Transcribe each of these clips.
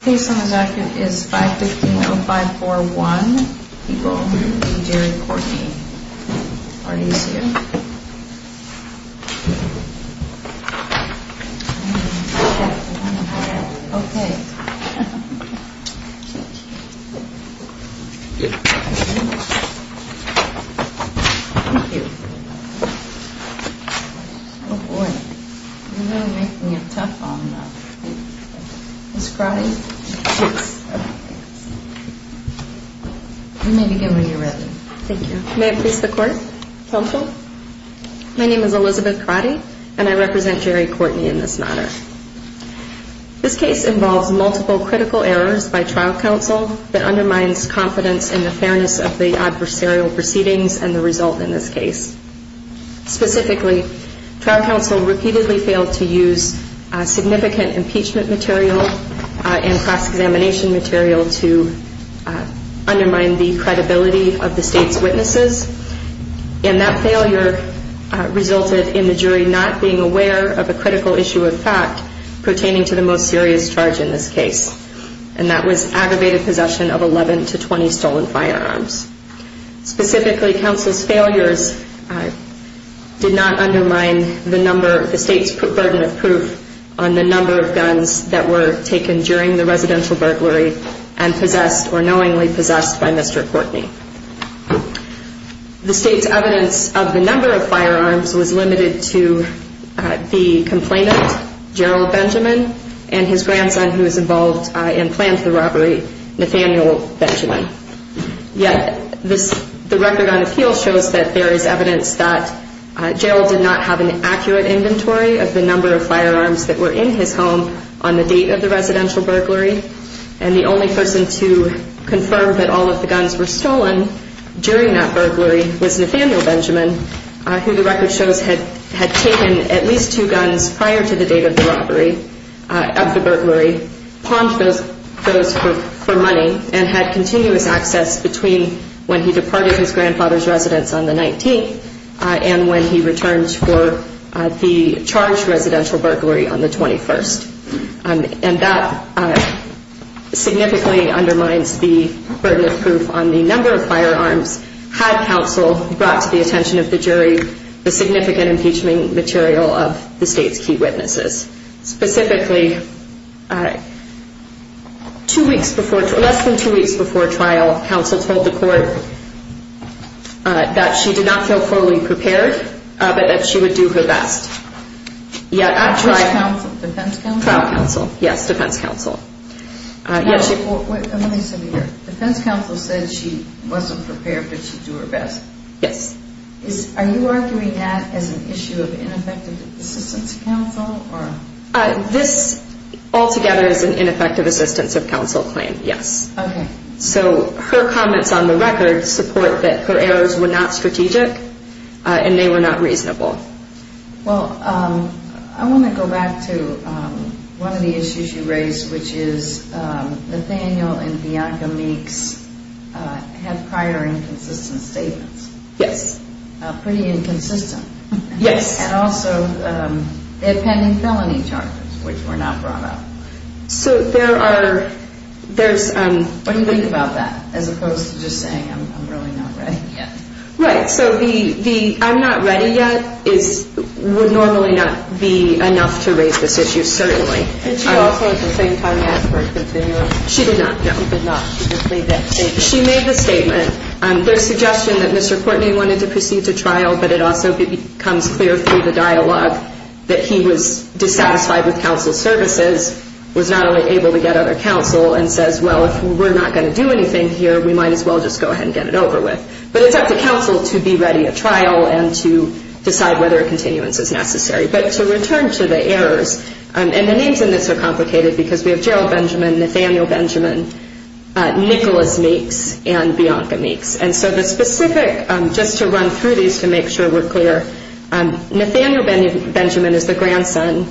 The case on the record is 515-0541. People, me, Jerry, Courtney, are these here? Okay. Thank you. Good morning. You're really making it tough on Ms. Crotty. You may begin when you're ready. Thank you. May I please the court? Counsel? My name is Elizabeth Crotty and I represent Jerry Courtney in this matter. This case involves multiple critical errors by trial counsel that undermines confidence in the fairness of the adversarial proceedings and the result in this case. Specifically, trial counsel repeatedly failed to use significant impeachment material and cross-examination material to undermine the credibility of the state's witnesses. And that failure resulted in the jury not being aware of a critical issue of fact pertaining to the most serious charge in this case. And that was aggravated possession of 11 to 20 stolen firearms. Specifically, counsel's failures did not undermine the number, the state's burden of proof on the number of guns that were taken during the residential burglary and possessed or knowingly possessed by Mr. Courtney. The state's evidence of the number of firearms was limited to the complainant, Gerald Benjamin, and his grandson who was involved and planned the robbery, Nathaniel Benjamin. Yet, the record on appeal shows that there is evidence that Gerald did not have an accurate inventory of the number of firearms that were in his home on the date of the residential burglary. And the only person to confirm that all of the guns were stolen during that burglary was Nathaniel Benjamin, who the record shows had taken at least two guns prior to the date of the robbery of the burglary, pawned those for money, and had continuous access between when he departed his grandfather's residence on the 19th and when he returned for the charged residential burglary on the 21st. And that significantly undermines the burden of proof on the number of firearms had counsel brought to the attention of the jury the significant impeachment material of the state's key witnesses. Specifically, less than two weeks before trial, counsel told the court that she did not feel fully prepared, but that she would do her best. Defense counsel said she wasn't prepared, but she'd do her best. Yes. Are you arguing that as an issue of ineffective assistance of counsel? This altogether is an ineffective assistance of counsel claim, yes. Okay. So her comments on the record support that her errors were not strategic and they were not reasonable. Well, I want to go back to one of the issues you raised, which is Nathaniel and Bianca Meeks had prior inconsistent statements. Yes. Pretty inconsistent. Yes. And also they had pending felony charges, which were not brought up. So there are, there's... What do you think about that, as opposed to just saying I'm really not ready yet? Right. So the I'm not ready yet would normally not be enough to raise this issue, certainly. And she also at the same time asked for a continuum. She did not, no. She did not. She just made that statement. She made the statement. There's suggestion that Mr. Courtney wanted to proceed to trial, but it also becomes clear through the dialogue that he was dissatisfied with counsel's services, was not only able to get other counsel and says, well, if we're not going to do anything here, we might as well just go ahead and get it over with. But it's up to counsel to be ready at trial and to decide whether a continuance is necessary. But to return to the errors, and the names in this are complicated because we have Gerald Benjamin, Nathaniel Benjamin, Nicholas Meeks, and Bianca Meeks. And so the specific, just to run through these to make sure we're clear, Nathaniel Benjamin is the grandson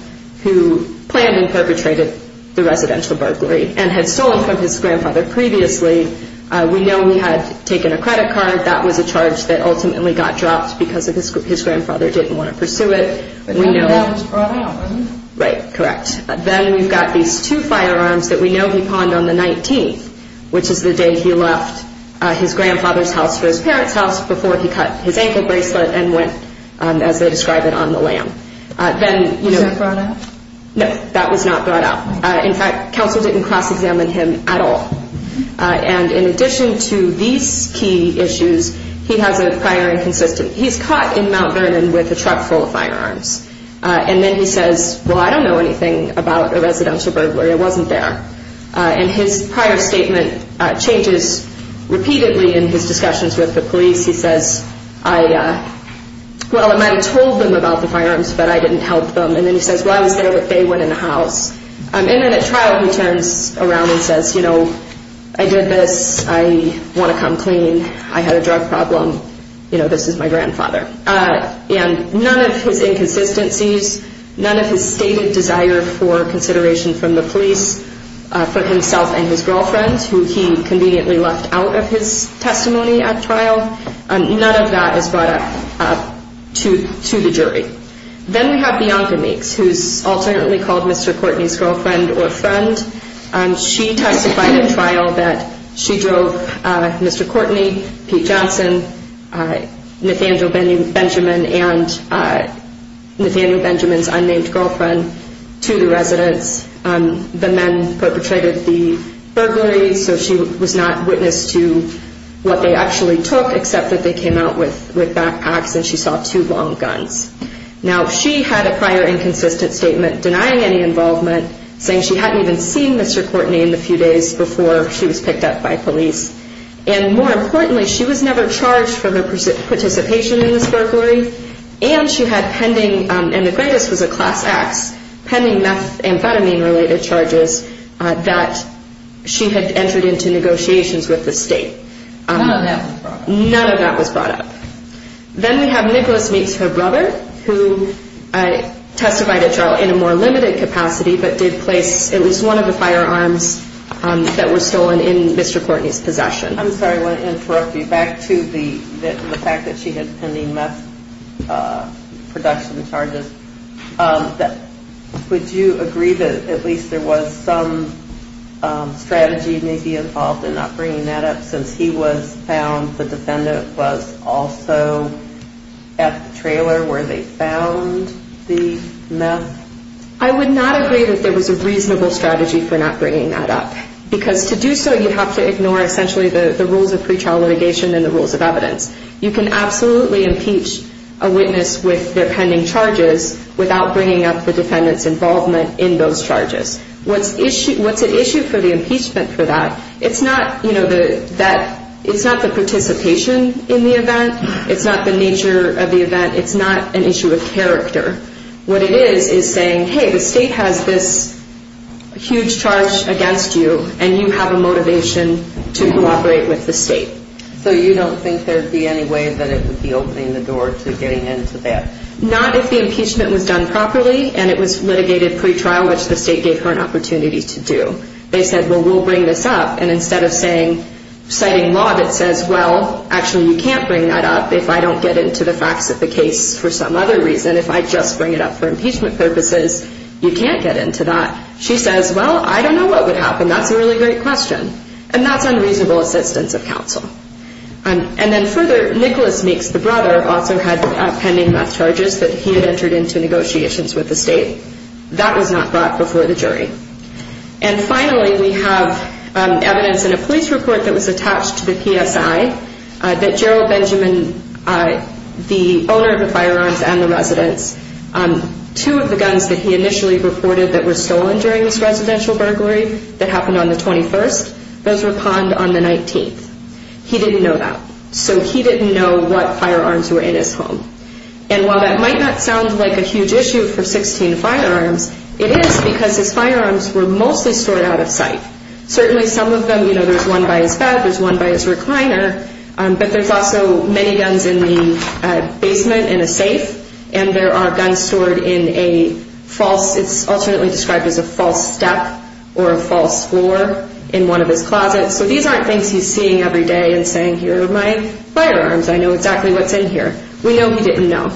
who planned and perpetrated the residential burglary and had stolen from his grandfather previously. We know he had taken a credit card. That was a charge that ultimately got dropped because his grandfather didn't want to pursue it. Right, correct. Then we've got these two firearms that we know he pawned on the 19th, which is the day he left his grandfather's house for his parents' house before he cut his ankle bracelet and went, as they describe it, on the lam. Was that brought out? No, that was not brought out. In fact, counsel didn't cross-examine him at all. And in addition to these key issues, he has a prior inconsistent. He's caught in Mount Vernon with a truck full of firearms. And then he says, well, I don't know anything about the residential burglary. I wasn't there. And his prior statement changes repeatedly in his discussions with the police. He says, well, I might have told them about the firearms, but I didn't help them. And then he says, well, I was there, but they went in the house. And then at trial he turns around and says, you know, I did this. I want to come clean. I had a drug problem. You know, this is my grandfather. And none of his inconsistencies, none of his stated desire for consideration from the police, for himself and his girlfriend, who he conveniently left out of his testimony at trial, none of that is brought up to the jury. Then we have Bianca Meeks, who is alternately called Mr. Courtney's girlfriend or friend. She testified at trial that she drove Mr. Courtney, Pete Johnson, Nathaniel Benjamin, and Nathaniel Benjamin's unnamed girlfriend to the residence. The men perpetrated the burglary, so she was not witness to what they actually took, except that they came out with backpacks and she saw two long guns. Now, she had a prior inconsistent statement denying any involvement, saying she hadn't even seen Mr. Courtney in the few days before she was picked up by police. And more importantly, she was never charged for her participation in this burglary, and she had pending, and the greatest was a class X, pending methamphetamine-related charges that she had entered into negotiations with the state. None of that was brought up? None of that was brought up. Then we have Nicholas Meeks, her brother, who testified at trial in a more limited capacity, but did place at least one of the firearms that were stolen in Mr. Courtney's possession. I'm sorry, I want to interrupt you. Back to the fact that she had pending meth production charges, would you agree that at least there was some strategy maybe involved in not bringing that up, since he was found, the defendant was also at the trailer where they found the meth? I would not agree that there was a reasonable strategy for not bringing that up, because to do so you have to ignore essentially the rules of pretrial litigation and the rules of evidence. You can absolutely impeach a witness with their pending charges without bringing up the defendant's involvement in those charges. What's at issue for the impeachment for that, it's not the participation in the event, it's not the nature of the event, it's not an issue of character. What it is is saying, hey, the state has this huge charge against you and you have a motivation to cooperate with the state. So you don't think there would be any way that it would be opening the door to getting into that? Not if the impeachment was done properly and it was litigated pretrial, which is how much the state gave her an opportunity to do. They said, well, we'll bring this up, and instead of citing law that says, well, actually you can't bring that up if I don't get into the facts of the case for some other reason, if I just bring it up for impeachment purposes, you can't get into that. She says, well, I don't know what would happen, that's a really great question. And that's unreasonable assistance of counsel. And then further, Nicholas Meeks, the brother, also had pending meth charges that he had entered into negotiations with the state. That was not brought before the jury. And finally, we have evidence in a police report that was attached to the PSI that Gerald Benjamin, the owner of the firearms and the residence, two of the guns that he initially reported that were stolen during this residential burglary that happened on the 21st, those were pawned on the 19th. He didn't know that. So he didn't know what firearms were in his home. And while that might not sound like a huge issue for 16 firearms, it is because his firearms were mostly stored out of sight. Certainly some of them, you know, there's one by his bed, there's one by his recliner, but there's also many guns in the basement in a safe, and there are guns stored in a false, it's alternately described as a false step or a false floor in one of his closets. So these aren't things he's seeing every day and saying, here are my firearms, I know exactly what's in here. We know he didn't know.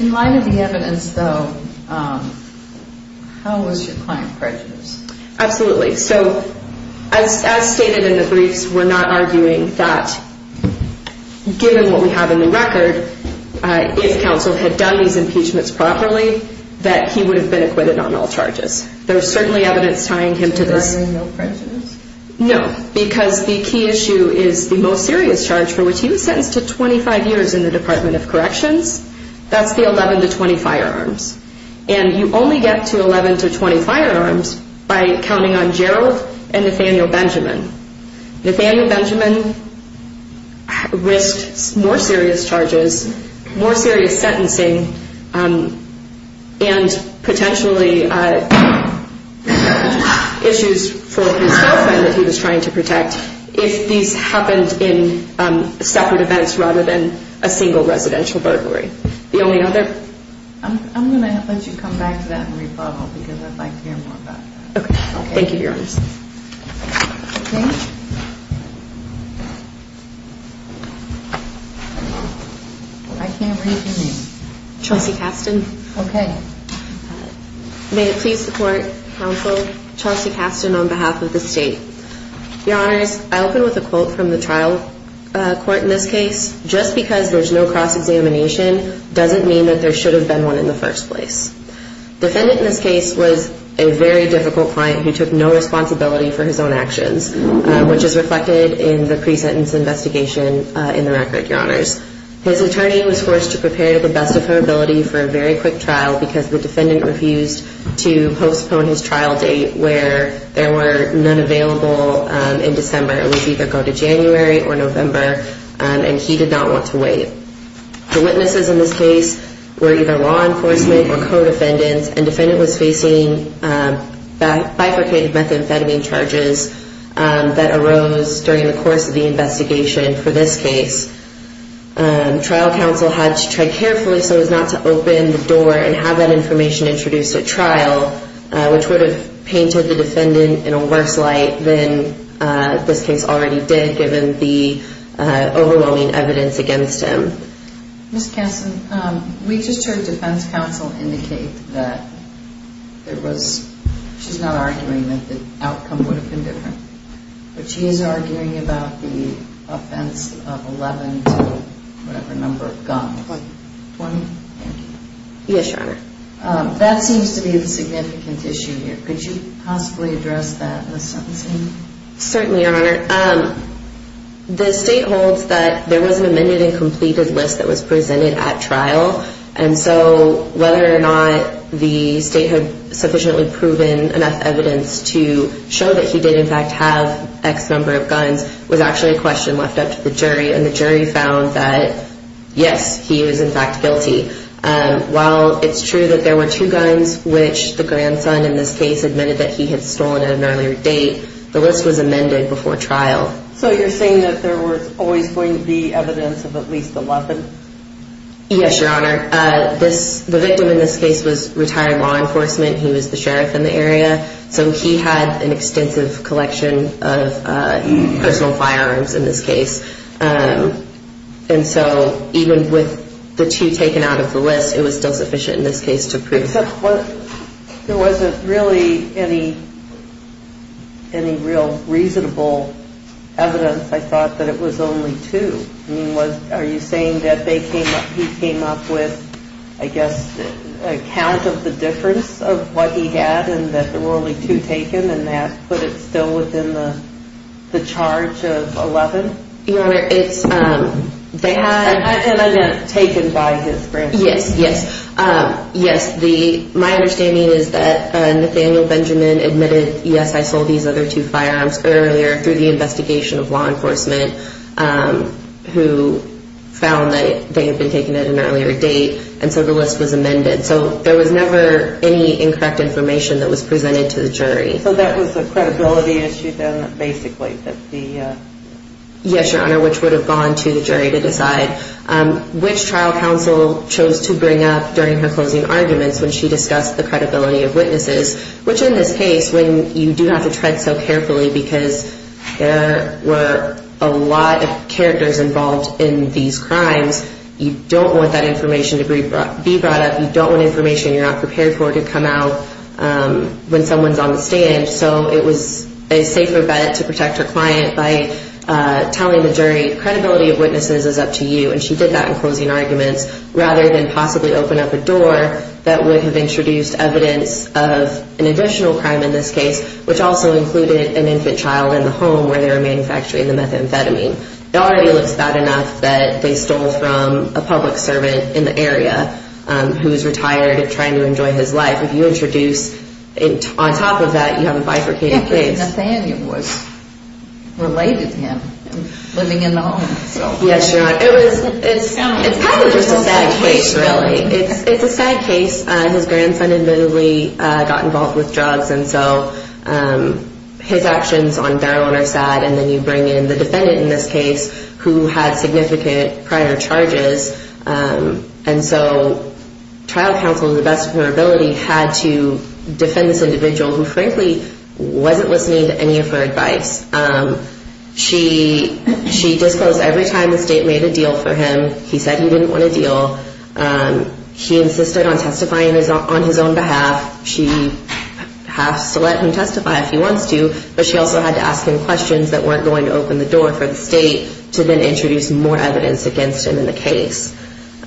In light of the evidence, though, how was your client prejudiced? Absolutely. So as stated in the briefs, we're not arguing that given what we have in the record, if counsel had done these impeachments properly, that he would have been acquitted on all charges. There's certainly evidence tying him to this. So there's no prejudice? No, because the key issue is the most serious charge for which he was sentenced to 25 years in the Department of Corrections. That's the 11 to 20 firearms. And you only get to 11 to 20 firearms by counting on Gerald and Nathaniel Benjamin. Nathaniel Benjamin risked more serious charges, more serious sentencing, and potentially issues for his girlfriend that he was trying to protect if these happened in separate events rather than a single residential burglary. The only other? I'm going to let you come back to that and rebuttal because I'd like to hear more about that. Okay. Thank you, Your Honor. Okay. I can't read your name. Chelsea Kasten. Okay. May it please the Court, Counsel, Chelsea Kasten on behalf of the State. Your Honors, I open with a quote from the trial court in this case. Just because there's no cross-examination doesn't mean that there should have been one in the first place. Defendant in this case was a very difficult client who took no responsibility for his own actions, which is reflected in the pre-sentence investigation in the record, Your Honors. His attorney was forced to prepare to the best of her ability for a very quick trial because the defendant refused to postpone his trial date where there were none available in December. It would either go to January or November, and he did not want to wait. The witnesses in this case were either law enforcement or co-defendants, and defendant was facing bifurcated methamphetamine charges that arose during the course of the investigation for this case. Trial counsel had to try carefully so as not to open the door and have that information introduced at trial, which would have painted the defendant in a worse light than this case already did given the overwhelming evidence against him. Ms. Kessler, we just heard defense counsel indicate that there was – she's not arguing that the outcome would have been different, but she is arguing about the offense of 11 to whatever number of guns. Twenty. Twenty? Thank you. Yes, Your Honor. That seems to be the significant issue here. Could you possibly address that in the sentencing? Certainly, Your Honor. The state holds that there was an amended and completed list that was presented at trial, and so whether or not the state had sufficiently proven enough evidence to show that he did in fact have X number of guns was actually a question left up to the jury, and the jury found that, yes, he was in fact guilty. While it's true that there were two guns, which the grandson in this case admitted that he had stolen at an earlier date, the list was amended before trial. So you're saying that there was always going to be evidence of at least 11? Yes, Your Honor. The victim in this case was retired law enforcement. He was the sheriff in the area, so he had an extensive collection of personal firearms in this case, and so even with the two taken out of the list, it was still sufficient in this case to prove. Except there wasn't really any real reasonable evidence. I thought that it was only two. Are you saying that he came up with, I guess, a count of the difference of what he had and that there were only two taken and that put it still within the charge of 11? Your Honor, it's... And I meant taken by his grandson. Yes, yes. My understanding is that Nathaniel Benjamin admitted, yes, I sold these other two firearms earlier through the investigation of law enforcement, who found that they had been taken at an earlier date, and so the list was amended. So there was never any incorrect information that was presented to the jury. So that was a credibility issue then, basically, that the... Yes, Your Honor, which would have gone to the jury to decide. Which trial counsel chose to bring up during her closing arguments when she discussed the credibility of witnesses, which in this case, when you do have to tread so carefully because there were a lot of characters involved in these crimes, you don't want that information to be brought up. You don't want information you're not prepared for to come out when someone's on the stand. So it was a safer bet to protect her client by telling the jury, credibility of witnesses is up to you. And she did that in closing arguments rather than possibly open up a door that would have introduced evidence of an additional crime in this case, which also included an infant child in the home where they were manufacturing the methamphetamine. It already looks bad enough that they stole from a public servant in the area who is retired and trying to enjoy his life. If you introduce on top of that, you have a bifurcated case. Nathaniel was related to him, living in the home. Yes, you're right. It's kind of just a sad case, really. It's a sad case. His grandson admittedly got involved with drugs, and so his actions on their own are sad. And then you bring in the defendant in this case who had significant prior charges. And so trial counsel, to the best of her ability, had to defend this individual who frankly wasn't listening to any of her advice. She disclosed every time the state made a deal for him. He said he didn't want a deal. He insisted on testifying on his own behalf. She has to let him testify if he wants to, but she also had to ask him questions that weren't going to open the door for the state to then introduce more evidence against him in the case.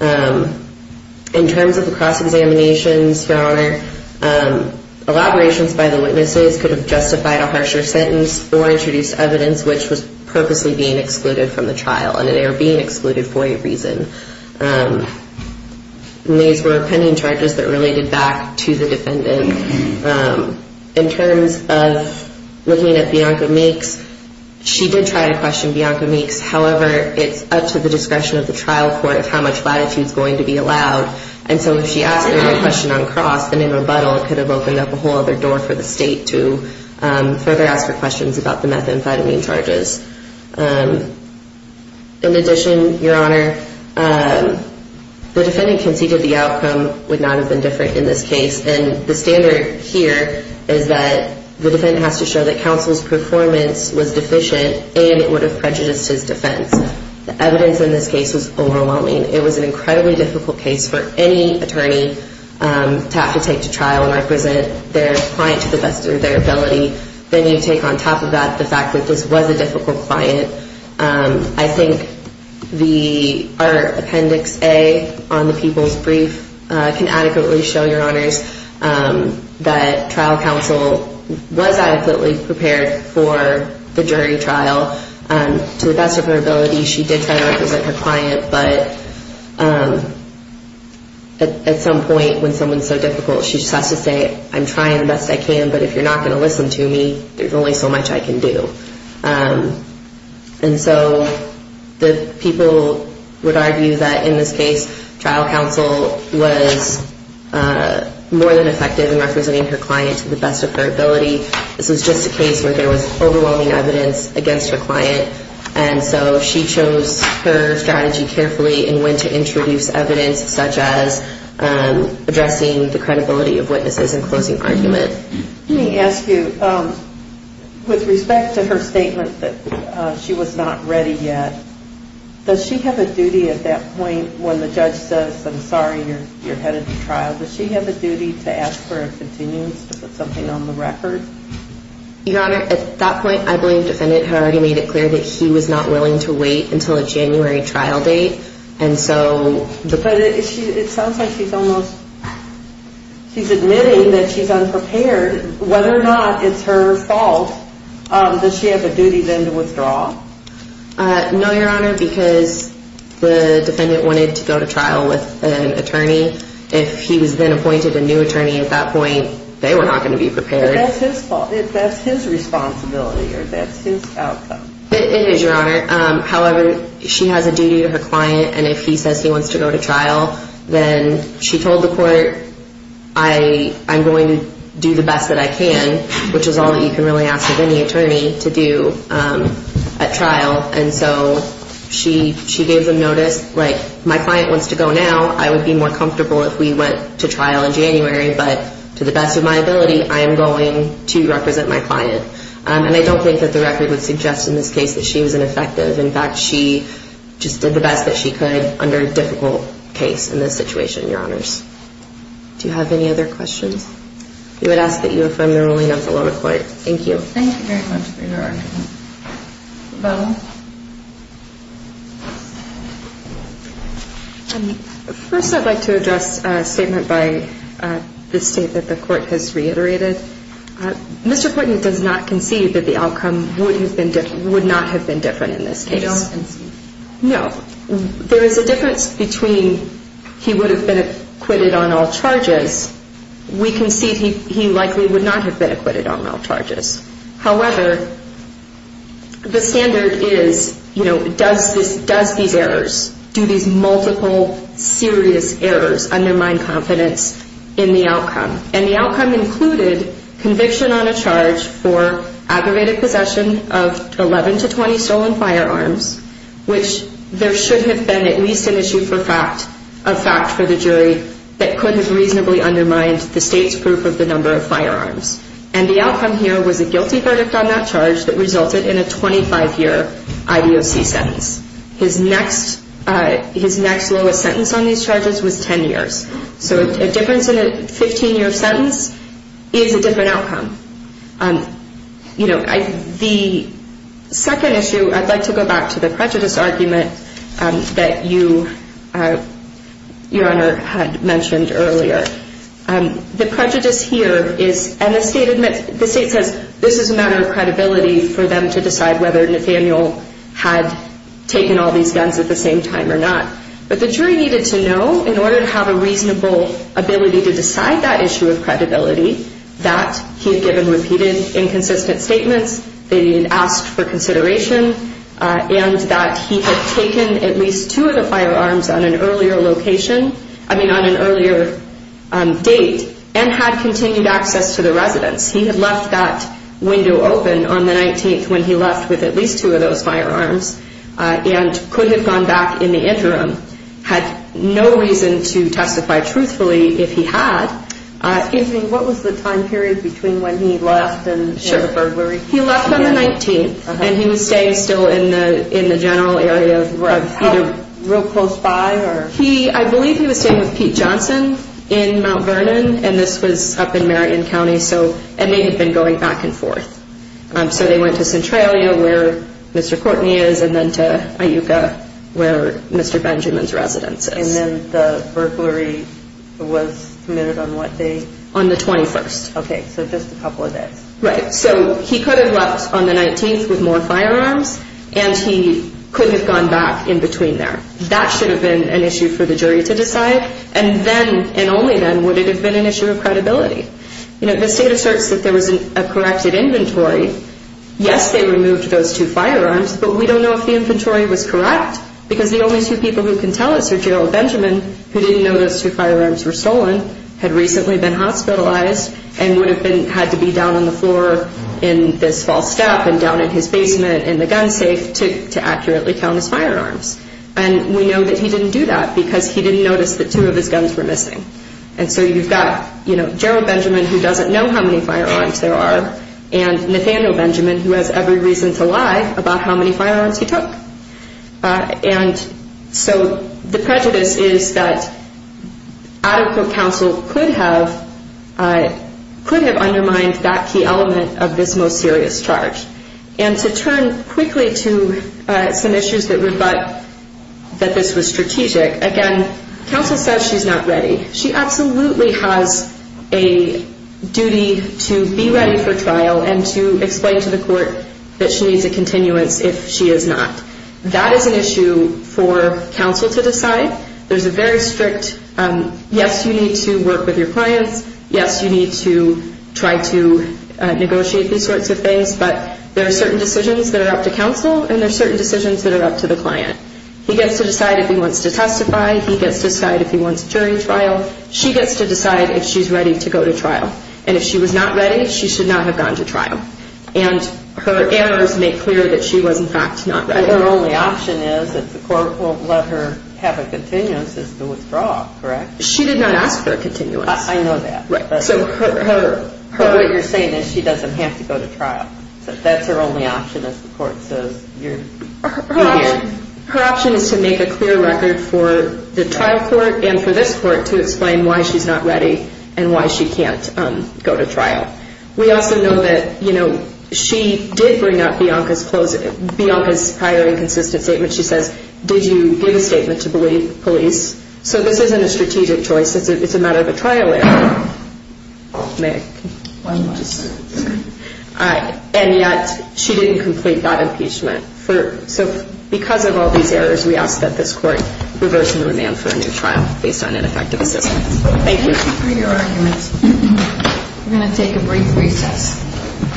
In terms of the cross-examinations, Your Honor, elaborations by the witnesses could have justified a harsher sentence or introduced evidence which was purposely being excluded from the trial, and they were being excluded for a reason. And these were pending charges that related back to the defendant. In terms of looking at Bianca Meeks, she did try to question Bianca Meeks. However, it's up to the discretion of the trial court of how much latitude is going to be allowed. And so if she asked her a question on cross, then in rebuttal it could have opened up a whole other door for the state to further ask her questions about the methamphetamine charges. In addition, Your Honor, the defendant conceded the outcome would not have been different in this case, and the standard here is that the defendant has to show that counsel's performance was deficient and it would have prejudiced his defense. The evidence in this case was overwhelming. It was an incredibly difficult case for any attorney to have to take to trial and represent their client to the best of their ability. Then you take on top of that the fact that this was a difficult client. I think our Appendix A on the People's Brief can adequately show, Your Honors, that trial counsel was adequately prepared for the jury trial to the best of her ability. She did try to represent her client, but at some point when someone's so difficult, she just has to say, I'm trying the best I can, but if you're not going to listen to me, there's only so much I can do. And so the people would argue that in this case, trial counsel was more than effective in representing her client to the best of her ability. This was just a case where there was overwhelming evidence against her client, and so she chose her strategy carefully and went to introduce evidence such as addressing the credibility of witnesses and closing argument. Let me ask you, with respect to her statement that she was not ready yet, does she have a duty at that point when the judge says, I'm sorry, you're headed to trial, does she have a duty to ask for a continuance to put something on the record? Your Honor, at that point, I believe the defendant had already made it clear that he was not willing to wait until a January trial date. But it sounds like she's admitting that she's unprepared. Whether or not it's her fault, does she have a duty then to withdraw? No, Your Honor, because the defendant wanted to go to trial with an attorney. If he was then appointed a new attorney at that point, they were not going to be prepared. But that's his fault. That's his responsibility, or that's his outcome. It is, Your Honor. However, she has a duty to her client, and if he says he wants to go to trial, then she told the court, I'm going to do the best that I can, which is all that you can really ask of any attorney to do at trial. And so she gave them notice, like, my client wants to go now. I would be more comfortable if we went to trial in January, but to the best of my ability, I am going to represent my client. And I don't think that the record would suggest in this case that she was ineffective. In fact, she just did the best that she could under a difficult case in this situation, Your Honors. Do you have any other questions? We would ask that you affirm the ruling of the lower court. Thank you. Thank you very much for your argument. Rebecca? First, I'd like to address a statement by the state that the court has reiterated. Mr. Putnam does not concede that the outcome would not have been different in this case. You don't concede? No. There is a difference between he would have been acquitted on all charges. We concede he likely would not have been acquitted on all charges. However, the standard is, you know, does these errors, do these multiple serious errors undermine confidence in the outcome? And the outcome included conviction on a charge for aggravated possession of 11 to 20 stolen firearms, which there should have been at least an issue of fact for the jury that could have reasonably undermined the state's proof of the number of firearms. And the outcome here was a guilty verdict on that charge that resulted in a 25-year IBOC sentence. His next lowest sentence on these charges was 10 years. So a difference in a 15-year sentence is a different outcome. You know, the second issue, I'd like to go back to the prejudice argument that you, Your Honor, had mentioned earlier. The prejudice here is, and the state says this is a matter of credibility for them to decide whether Nathaniel had taken all these guns at the same time or not. But the jury needed to know in order to have a reasonable ability to decide that issue of credibility that he had given repeated inconsistent statements, that he had asked for consideration, and that he had taken at least two of the firearms on an earlier location, I mean on an earlier date, and had continued access to the residence. He had left that window open on the 19th when he left with at least two of those firearms and could have gone back in the interim. Had no reason to testify truthfully if he had. Excuse me, what was the time period between when he left and the burglary? He left on the 19th, and he was staying still in the general area. Real close by? I believe he was staying with Pete Johnson in Mount Vernon, and this was up in Marion County, and they had been going back and forth. So they went to Centralia, where Mr. Courtney is, and then to Iuka, where Mr. Benjamin's residence is. And then the burglary was committed on what day? On the 21st. Okay, so just a couple of days. Right, so he could have left on the 19th with more firearms, and he couldn't have gone back in between there. That should have been an issue for the jury to decide, and then, and only then, would it have been an issue of credibility. You know, the state asserts that there was a corrected inventory. Yes, they removed those two firearms, but we don't know if the inventory was correct because the only two people who can tell us are Gerald Benjamin, who didn't know those two firearms were stolen, had recently been hospitalized, and would have had to be down on the floor in this false step and down in his basement in the gun safe to accurately count his firearms. And we know that he didn't do that because he didn't notice that two of his guns were missing. And so you've got, you know, Gerald Benjamin, who doesn't know how many firearms there are, and Nathaniel Benjamin, who has every reason to lie about how many firearms he took. And so the prejudice is that adequate counsel could have undermined that key element of this most serious charge. And to turn quickly to some issues that would butt that this was strategic, again, counsel says she's not ready. She absolutely has a duty to be ready for trial and to explain to the court that she needs a continuance if she is not. That is an issue for counsel to decide. There's a very strict, yes, you need to work with your clients. Yes, you need to try to negotiate these sorts of things. But there are certain decisions that are up to counsel, and there are certain decisions that are up to the client. He gets to decide if he wants to testify. He gets to decide if he wants jury trial. She gets to decide if she's ready to go to trial. And if she was not ready, she should not have gone to trial. And her errors make clear that she was, in fact, not ready. Her only option is if the court will let her have a continuance is to withdraw, correct? She did not ask for a continuance. I know that. Right. But what you're saying is she doesn't have to go to trial. That's her only option, as the court says. Her option is to make a clear record for the trial court and for this court to explain why she's not ready and why she can't go to trial. We also know that, you know, she did bring up Bianca's prior inconsistent statement. She says, did you give a statement to police? So this isn't a strategic choice. It's a matter of a trial error. May I? And yet she didn't complete that impeachment. So because of all these errors, we ask that this court reverse the remand for a new trial based on ineffective assistance. Thank you. Thank you for your arguments. We're going to take a brief recess.